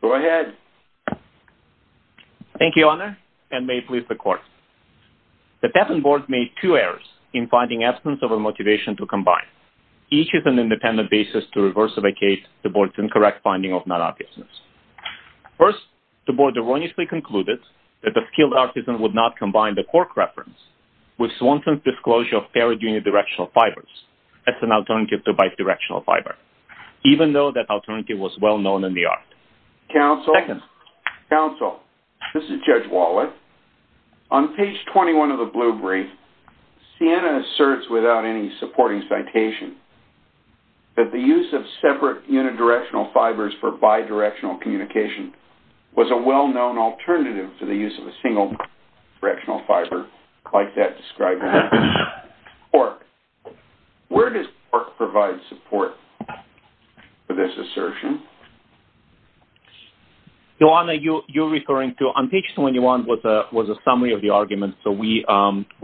Go ahead. Thank you, Honor, and may it please the Court. The Tafton Board made two errors in finding absence of a motivation to combine. Each is an independent basis to reverse-evacuate the Board's incorrect finding of non-artisans. First, the Board erroneously concluded that a skilled artisan would not combine the cork reference with Swanson's disclosure of ferrite unidirectional fibers as an alternative to counsel. Second. Counsel, this is Judge Wallet. On page 21 of the Blue Brief, Ciena asserts without any supporting citation that the use of separate unidirectional fibers for bidirectional communication was a well-known alternative to the use of a single directional fiber like that described in the report. Where does cork provide support for this assertion? Your Honor, you're referring to-on page 21 was a summary of the argument, so we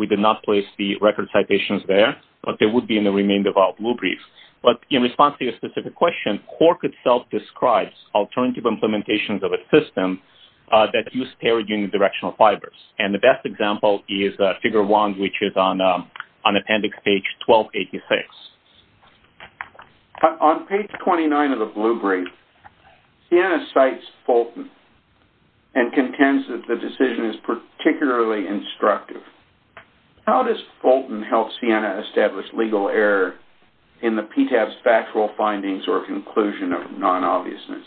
did not place the record citations there, but they would be in the remainder of our Blue Brief. But in response to your specific question, cork itself describes alternative implementations of a system that used ferrite unidirectional fibers, and the best example is Figure 1, which is on Appendix Page 1286. On page 29 of the Blue Brief, Ciena cites Fulton and contends that the decision is particularly instructive. How does Fulton help Ciena establish legal error in the PTAB's factual findings or conclusion of non-obviousness?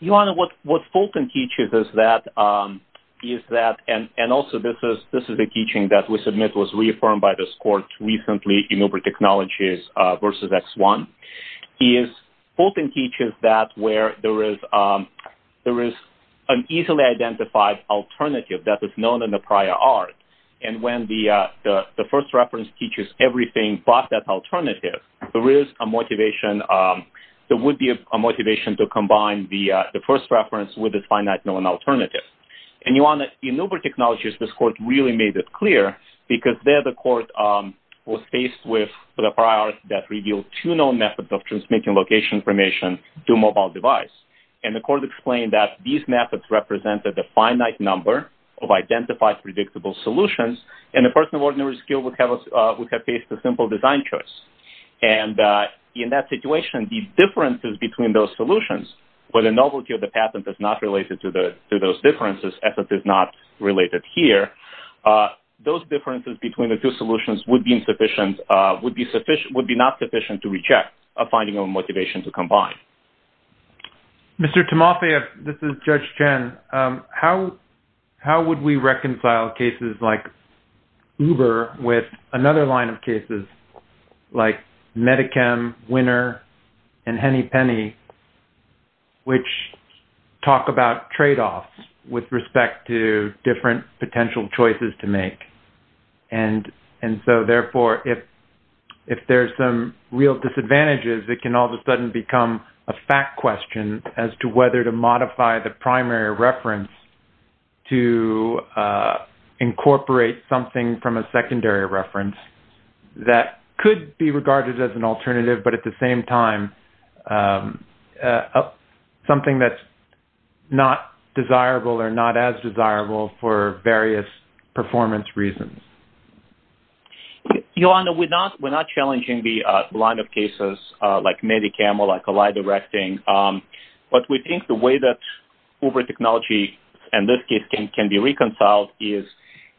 Your Honor, what Fulton teaches is that-and this is a teaching that we submit was reaffirmed by this court recently, in Uber Technologies versus X1. Fulton teaches that where there is an easily identified alternative that is known in the prior art, and when the first reference teaches everything but that alternative, there is a motivation-there would be a motivation to combine the first reference with a finite known alternative. And, Your Honor, in Uber Technologies, this court really made it clear, because there the court was faced with a prior art that revealed two known methods of transmitting location information to a mobile device. And the court explained that these methods represented a finite number of identified predictable solutions, and a person of ordinary skill would have faced a simple design choice. And in that situation, the differences between those solutions, where the novelty of the patent is not related to the-to those differences, as it is not related here, those differences between the two solutions would be insufficient-would be sufficient-would be not sufficient to reject a finding of motivation to combine. Mr. Timofeyev, this is Judge Chen. How would we reconcile cases like Uber with another line of cases like MediChem, Winner, and Henny Penny, which talk about tradeoffs with respect to different potential choices to make? And-and so, therefore, if-if there's some real disadvantages, it can all of a sudden become a fact question as to whether to modify the primary reference to incorporate something from a secondary reference that could be regarded as an alternative, but at the same time, something that's not desirable or not as desirable for various performance reasons. Your Honor, we're not-we're not challenging the line of cases like MediChem or like Alida Recting, but we think the way that Uber technology, in this case, can be reconciled is,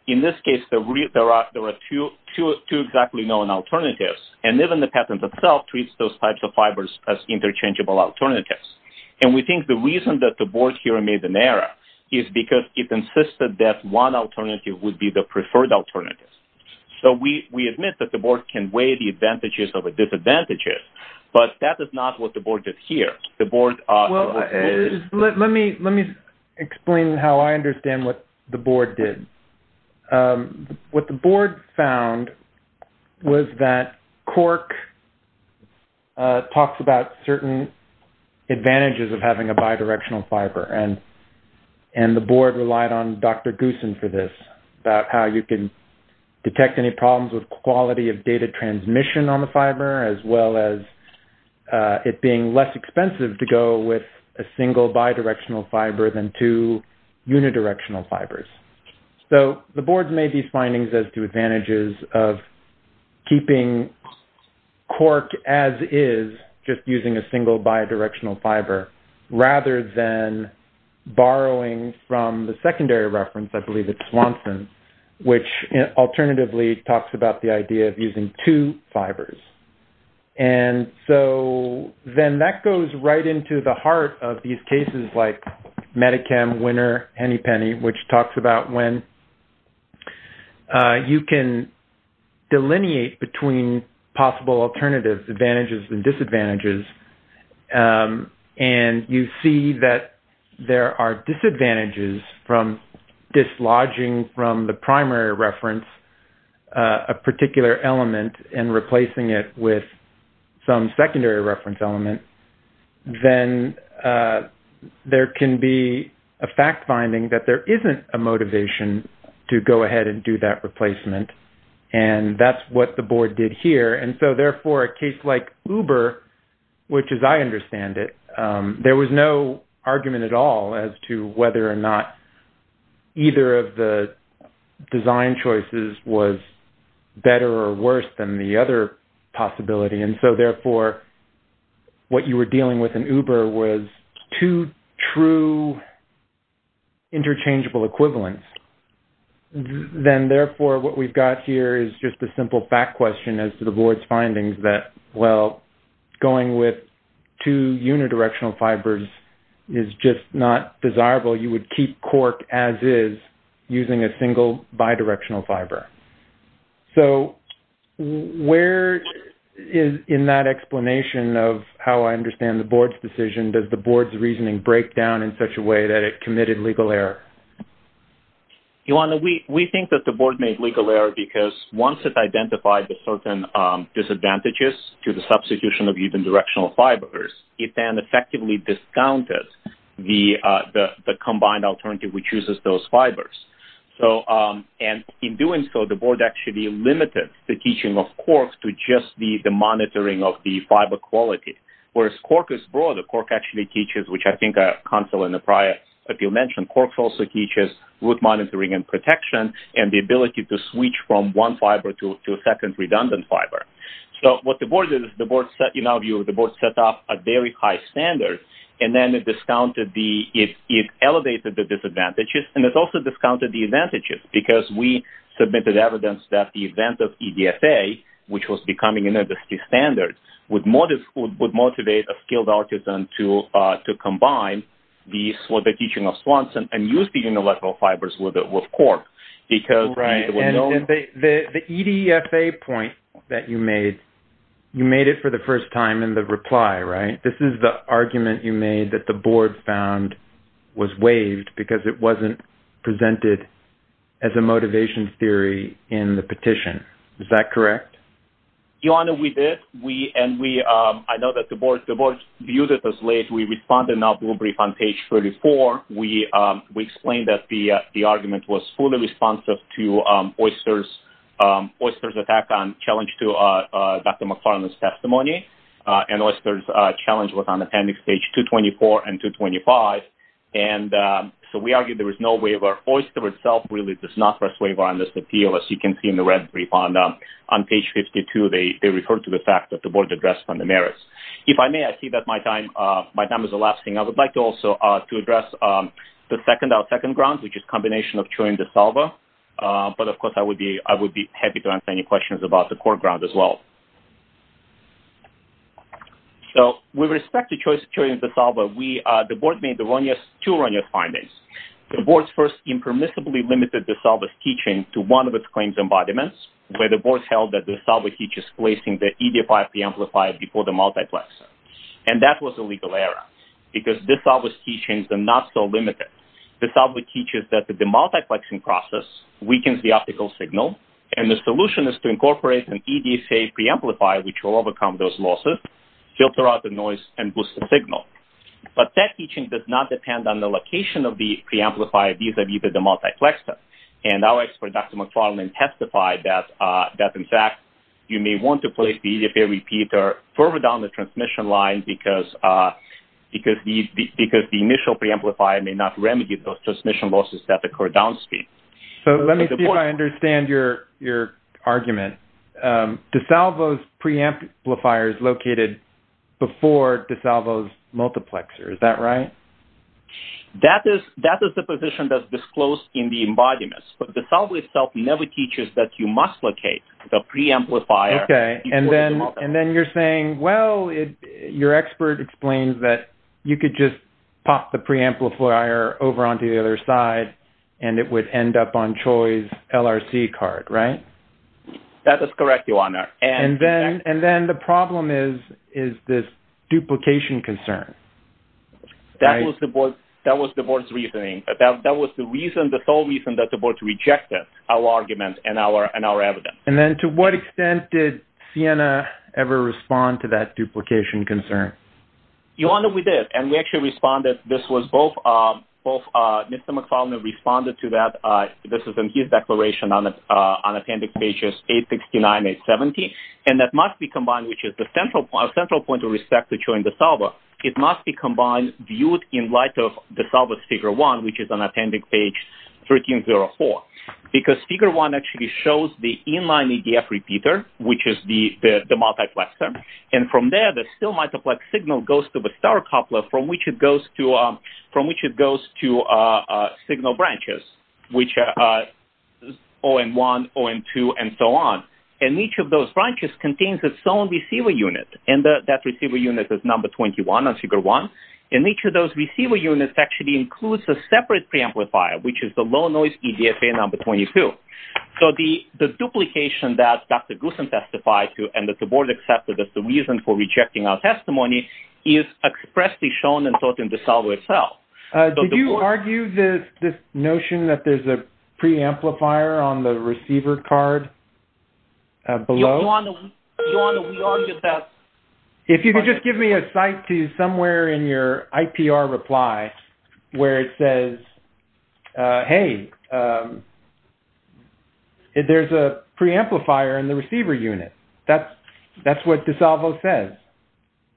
in this case, there are-there are two-two exactly known alternatives, and even the patent itself treats those types of fibers as interchangeable alternatives. And we think the reason that the board here made an error is because it insisted that one alternative would be the preferred alternative. So, we-we admit that the board can weigh the but that is not what the board did here. The board- Well, let me-let me explain how I understand what the board did. What the board found was that Cork talks about certain advantages of having a bidirectional fiber, and-and the board relied on Dr. Goossen for this, about how you can detect any problems with it being less expensive to go with a single bidirectional fiber than two unidirectional fibers. So, the board made these findings as to advantages of keeping Cork as is, just using a single bidirectional fiber, rather than borrowing from the secondary reference, I believe it's Swanson, which alternatively talks about the idea of using two fibers. And so, then that goes right into the heart of these cases like Medi-Chem, Winner, Henny Penny, which talks about when you can delineate between possible alternatives, advantages, and disadvantages. And you see that there are disadvantages from dislodging from the primary reference a particular element and replacing it with some secondary reference element. Then, there can be a fact finding that there isn't a motivation to go ahead and do that replacement. And that's what the board did here. And so, therefore, a case like Uber, which as I understand it, there was no argument at all as to whether or not either of the design choices was better or worse than the other possibility. And so, therefore, what you were dealing with in Uber was two true interchangeable equivalents. Then, therefore, what we've got here is just a simple fact question as to the board's findings that, well, going with two unidirectional fibers is just not desirable. You would keep Cork as is using a single bidirectional fiber. So, where in that explanation of how I understand the board's decision, does the board's reasoning break down in such a way that it committed legal error? Ioana, we think that the board made legal error because once it identified the certain disadvantages to the substitution of unidirectional fibers, it then effectively discounted the combined alternative which uses those fibers. And in doing so, the board actually limited the teaching of Cork to just the monitoring of the fiber quality. Whereas Cork is broad. Cork actually teaches, which I think Hansel and Nepraeus mentioned, Cork also teaches with monitoring and protection and the ability to switch from one fiber to a second redundant fiber. So, what the board did is, in our view, the board set up a very high standard and then it elevated the disadvantages and it also discounted the advantages because we submitted evidence that the event of EDSA, which was becoming an alternative to combine the teaching of Swanson and use the unilateral fibers with Cork. Right. And the EDSA point that you made, you made it for the first time in the reply, right? This is the argument you made that the board found was waived because it wasn't presented as a motivation theory in the petition. Is that correct? Ioana, we did. I know that the board viewed it as late. We responded not to a brief on page 34. We explained that the argument was fully responsive to Oyster's attack on challenge to Dr. McFarland's testimony and Oyster's challenge was on appendix page 224 and 225. And so, we argued there was no waiver. Oyster itself really does not press waiver on this appeal, as you can see in the red brief. On page 52, they referred to the fact that the board addressed on the merits. If I may, I see that my time is elapsing. I would like also to address the second grounds, which is combination of Turing and DeSalvo. But of course, I would be happy to answer any questions about the core grounds as well. So, with respect to choice of Turing and DeSalvo, the board made two erroneous findings. The board first impermissibly limited DeSalvo's teaching to one of its claims embodiments, where the board held that DeSalvo teaches placing the ED5 preamplifier before the multiplexer. And that was a legal error, because DeSalvo's teachings are not so limited. DeSalvo teaches that the multiplexing process weakens the optical signal, and the solution is to incorporate an EDSA preamplifier, which will overcome those losses, filter out the noise, and boost the signal. But that teaching does not depend on the location of the preamplifier vis-a-vis the multiplexer. And our expert, Dr. McFarland, testified that, in fact, you may want to place the EDSA repeater further down the transmission line, because the initial preamplifier may not remedy those transmission losses at the core down speed. So, let me see if I understand your argument. DeSalvo's preamplifier is located before DeSalvo's multiplexer. Is that right? That is the position that's disclosed in the embodiments. But DeSalvo itself never teaches that you must locate the preamplifier before the multiplexer. Okay. And then you're saying, well, your expert explains that you could just pop the preamplifier over onto the other side, and it would end up on Choi's LRC card, right? That is correct, Your Honor. And then the problem is this duplication concern. Right. That was the Board's reasoning. That was the reason, the sole reason that the Board rejected our argument and our evidence. And then to what extent did Sienna ever respond to that duplication concern? Your Honor, we did. And we actually responded. This was both-Mr. McFarland responded to that. This is in his declaration on appendix pages 869, 817. And that must be combined, which is the central point of respect to Choi and DeSalvo. It must be combined, viewed in light of DeSalvo's figure one, which is on appendix page 1304. Because figure one actually shows the inline EDF repeater, which is the multiplexer. And from there, the still-multiplex signal goes to the star coupler, from which it goes to signal branches, which are OM1, OM2, and so on. And each of those branches contains its own receiver unit. And that receiver unit is number 21 on figure one. And each of those receiver units actually includes a separate preamplifier, which is the low-noise EDFA number 22. So the duplication that Dr. Goossen testified to and that the Board accepted as the reason for rejecting our testimony is expressly shown and taught in DeSalvo itself. Did you argue this notion that there's a preamplifier on the receiver card below? If you could just give me a cite to somewhere in your IPR reply where it says, hey, there's a preamplifier in the receiver unit. That's what DeSalvo says.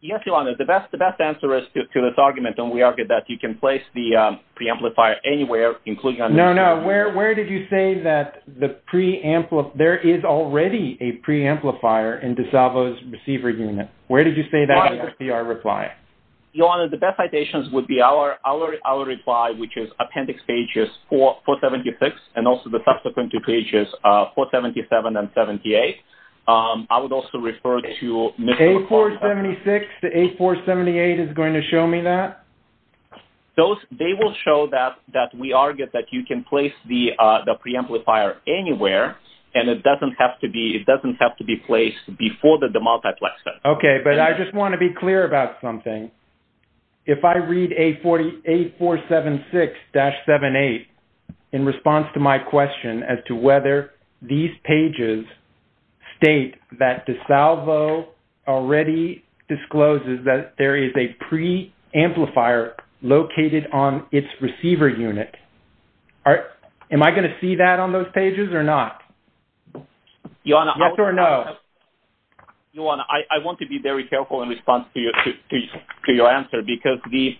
Yes, Your Honor. The best answer is to this argument, and we argue that you can place the preamplifier anywhere, including on the receiver unit. No, no. Where did you say that there is already a preamplifier in DeSalvo's receiver unit? Where did you say that in your IPR reply? Your Honor, the best citations would be our reply, which is Appendix Pages 476, and also the subsequent two pages, 477 and 78. I would also refer to Mr. McCormick. The A476 to A478 is going to show me that? They will show that we argue that you can place the preamplifier anywhere, and it doesn't have to be placed before the multiplexer. Okay, but I just want to be clear about something. If I read A476-78 in response to my question as whether these pages state that DeSalvo already discloses that there is a preamplifier located on its receiver unit, am I going to see that on those pages or not? Yes or no? Your Honor, I want to be very careful in response to your answer, because the...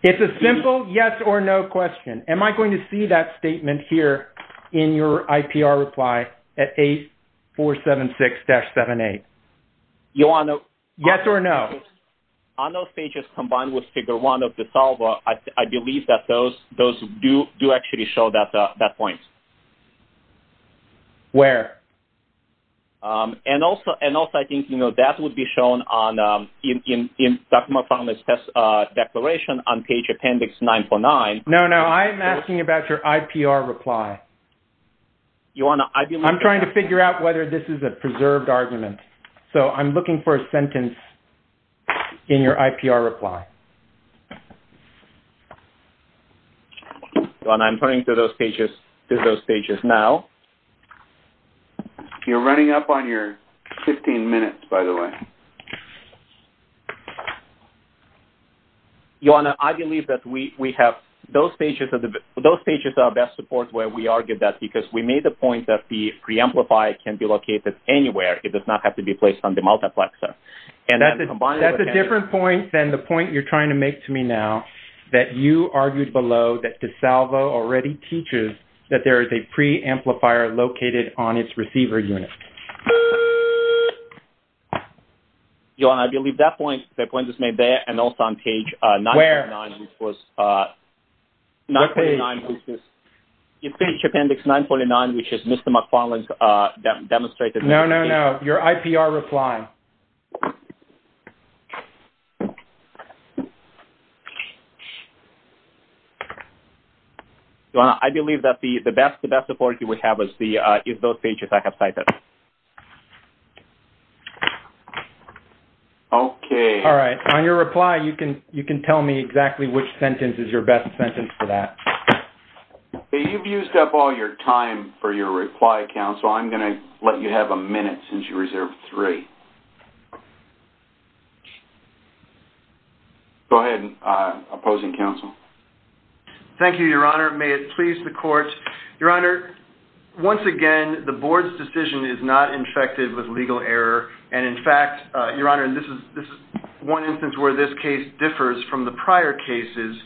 It's a simple yes or no question. Am I going to see that statement here in your IPR reply at A476-78? Your Honor... Yes or no? On those pages combined with Figure 1 of DeSalvo, I believe that those do actually show that point. Where? And also, I think that would be shown in Dr. McCormick's test declaration on page Appendix 949. No, no. I'm asking about your IPR reply. Your Honor, I believe... I'm trying to figure out whether this is a preserved argument. So, I'm looking for a sentence in your IPR reply. Your Honor, I'm turning to those pages now. You're running up on your 15 minutes, by the way. Your Honor, I believe that we have... Those pages are best support where we argued that, because we made the point that the preamplifier can be located anywhere. It does not have to be placed on the multiplexer. And that's a combined... That's a different point than the point you're trying to make to me now, that you argued below that DeSalvo already teaches that there is a preamplifier located on its receiver unit. Your Honor, I believe that point is made there, and also on page 949, which was... Where? It's page Appendix 949, which is Mr. McFarland's demonstrated... No, no, no. Your IPR reply. Your Honor, I believe that the best support you would have is those pages I have cited. Okay. All right. On your reply, you can tell me exactly which sentence is your best sentence for that. Hey, you've used up all your time for your reply, counsel. I'm going to let you have a minute, since you reserved three. Go ahead, opposing counsel. Thank you, Your Honor. May it please the court. Your Honor, once again, the board's decision is not infected with legal error. And in fact, Your Honor, this is one instance where this case differs from the prior cases.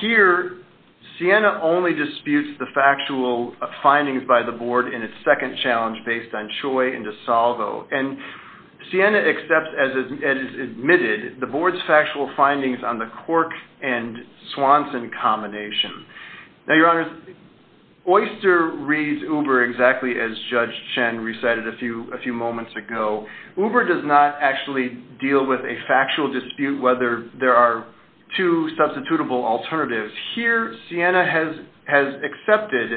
Here, Siena only disputes the factual findings by the board in its second challenge, based on Choi and DeSalvo. And Siena accepts, as is admitted, the board's factual findings on the Cork and Swanson combination. Now, Your Honor, Oyster reads Uber exactly as Judge Chen recited a few moments ago. Uber does not actually deal with a factual dispute, whether there are two substitutable alternatives. Here, Siena has accepted,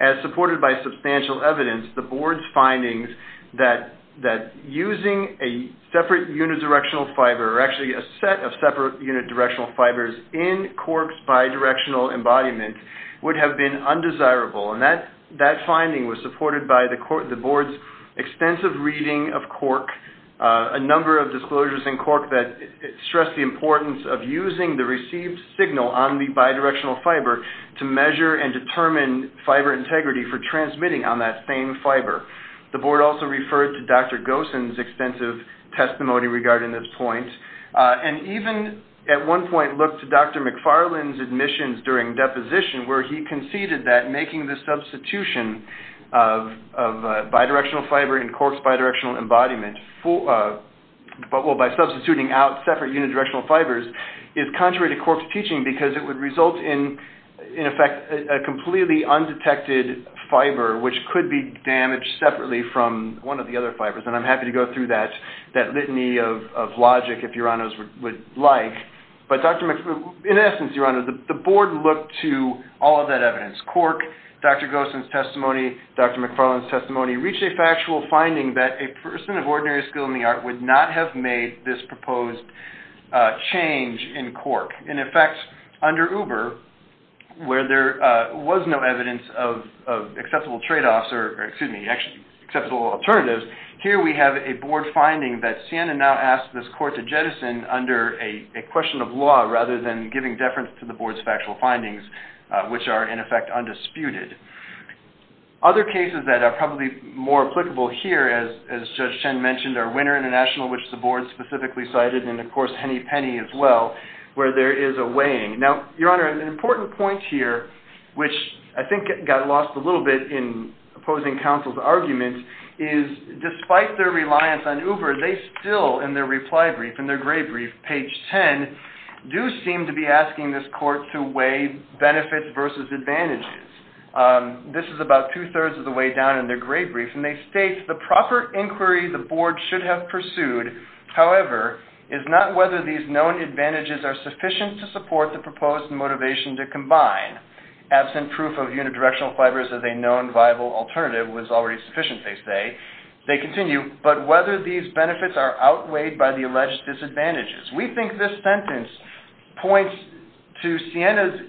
as supported by substantial evidence, the board's findings that using a separate unit directional fiber, or actually a set of separate unit directional fibers, in Cork's bidirectional embodiment would have been undesirable. And that finding was supported by the board's extensive reading of Cork, a number of disclosures in Cork that stress the importance of using the received signal on the bidirectional fiber to measure and determine fiber integrity for transmitting on that same fiber. The board also referred to Dr. Gosen's extensive testimony regarding this point. And even at one point looked to Dr. McFarland's admissions during deposition, where he conceded that making the substitution of bidirectional fiber in Cork's bidirectional embodiment, by substituting out separate unit directional fibers, is contrary to Cork's teaching because it would result in, in effect, a completely undetected fiber, which could be damaged separately from one of the other fibers. And I'm happy to go through that litany of logic, if Your Honors would like. But in essence, Your Honor, the board looked to all of that evidence. Cork, Dr. Gosen's person of ordinary skill in the art, would not have made this proposed change in Cork. In effect, under Uber, where there was no evidence of acceptable tradeoffs, or excuse me, acceptable alternatives, here we have a board finding that Sienna now asked this court to jettison under a question of law, rather than giving deference to the board's factual findings, which are, in effect, undisputed. Other cases that are probably more applicable here, as Judge Chen mentioned, are Winner International, which the board specifically cited, and of course Hennepenny as well, where there is a weighing. Now, Your Honor, an important point here, which I think got lost a little bit in opposing counsel's arguments, is despite their reliance on Uber, they still, in their reply brief, in their gray brief, page 10, do seem to be asking this court to weigh benefits versus advantages. This is about two-thirds of the way down in their gray brief, and they state, the proper inquiry the board should have pursued, however, is not whether these known advantages are sufficient to support the proposed motivation to combine. Absent proof of unidirectional fibers as a known viable alternative was already sufficient, they say. They continue, but whether these benefits are outweighed by the alleged disadvantages. We think this sentence points to Sienna's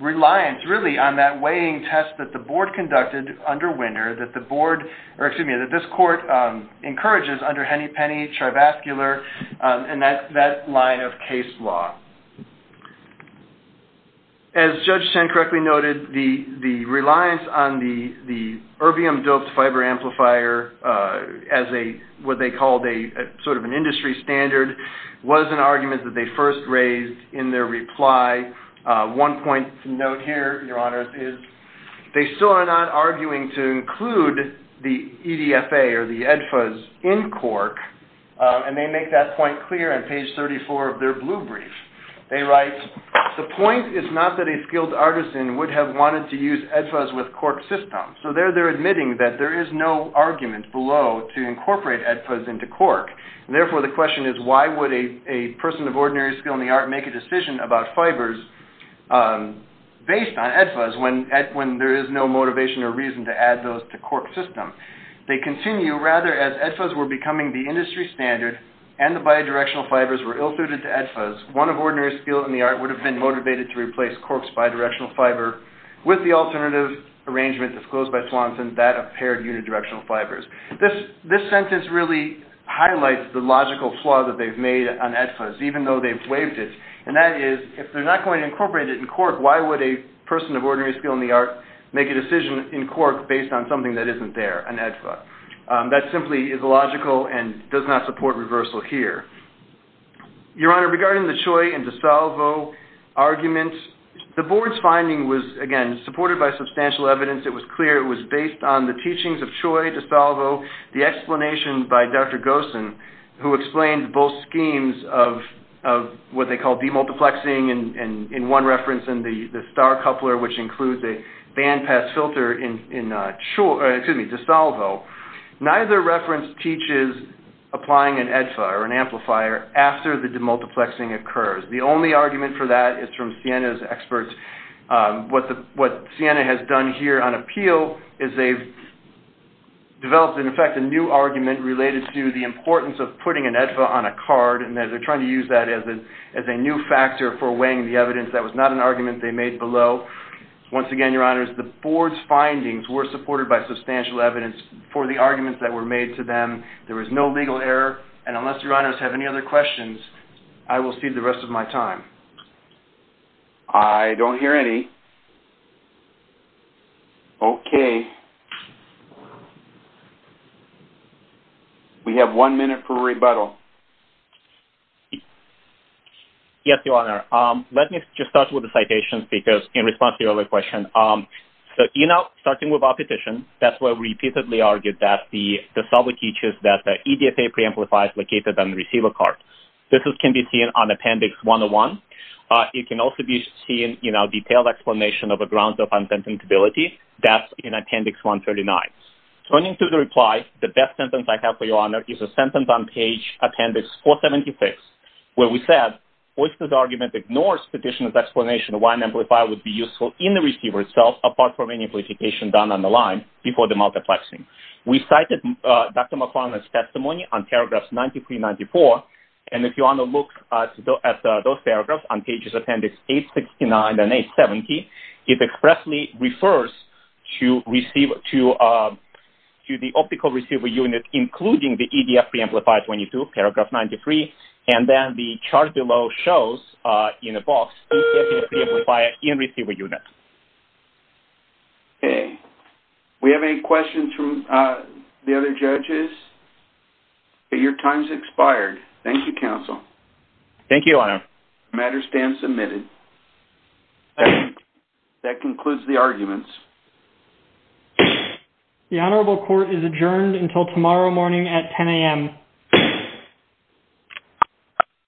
reliance, really, on that weighing test that the board conducted under Winner, that the board, or excuse me, that this court encourages under Hennepenny, Trivascular, and that line of case law. As Judge Chen correctly noted, the reliance on the erbium-doped fiber amplifier as a, what they called a, sort of an industry standard, was an argument that they first raised in their reply. One point to note here, Your Honors, is they still are not arguing to include the EDFA, or the EDFAs, in Cork, and they make that point clear on page 34 of their blue brief. They write, the point is not that a skilled artisan would have wanted to use EDFAs with Cork system. So there they're admitting that there is no argument below to incorporate EDFAs into Cork, and therefore the question is why would a person of ordinary skill in the art make a decision about fibers based on EDFAs when there is no motivation or reason to add those to Cork system. They continue, rather, as EDFAs were becoming the industry standard, and the bidirectional fibers were ill-suited to EDFAs, one of ordinary skill in the art would have been motivated to replace Cork's bidirectional fiber with the alternative arrangement disclosed by Swanson that of paired unidirectional fibers. This sentence really highlights the logical flaw that they've made on EDFAs, even though they've waived it, and that is, if they're not going to incorporate it in Cork, why would a person of ordinary skill in the art make a decision in Cork based on something that isn't there, an EDFA? That simply is illogical and does not support reversal here. Your Honor, regarding the Choi and DiSalvo arguments, the board's finding was, again, supported by substantial evidence. It was clear it was based on the teachings of Choi, DiSalvo, the explanation by Dr. Gosen, who explained both schemes of what they call demultiplexing, and in one reference in the Star Coupler, which includes a bandpass filter in DiSalvo, neither reference teaches applying an EDFA or an amplifier after the demultiplexing occurs. The only argument for that is from Ciena's experts. What Ciena has done here on appeal is they've developed, in effect, a new argument related to the importance of putting an EDFA on a card, and that they're trying to use that as a new factor for weighing the evidence. That was not an argument they made below. Once again, Your Honors, the board's findings were supported by substantial evidence for the arguments that were made to them. There was no legal error, and unless Your Honors have any other questions, I will cede the rest of my time. I don't hear any. Okay. We have one minute for rebuttal. Yes, Your Honor. Let me just start with the citation, because in response to your other question, so, you know, starting with our petition, that's where we repeatedly argued that DiSalvo teaches that the EDFA preamplifier is located on the receiver card. This can be seen on Appendix 101. It can also be seen, you know, detailed explanation of the grounds of unsentimentability. That's in Appendix 139. Turning to the reply, the best sentence I have for Your Honor is Appendix 476, where we said, Oyster's argument ignores Petitioner's explanation of why an amplifier would be useful in the receiver itself, apart from any amplification done on the line before the multiplexing. We cited Dr. McFarland's testimony on paragraphs 93 and 94, and if you want to look at those paragraphs on pages Appendix 869 and 870, it expressly refers to the optical receiver unit, including the EDF preamplifier 22, paragraph 93, and then the chart below shows, in a box, EDF preamplifier in receiver unit. Okay. We have any questions from the other judges? Your time's expired. Thank you, counsel. Thank you, Your Honor. The matter stands admitted. That concludes the arguments. The Honorable Court is adjourned until tomorrow morning at 10 a.m.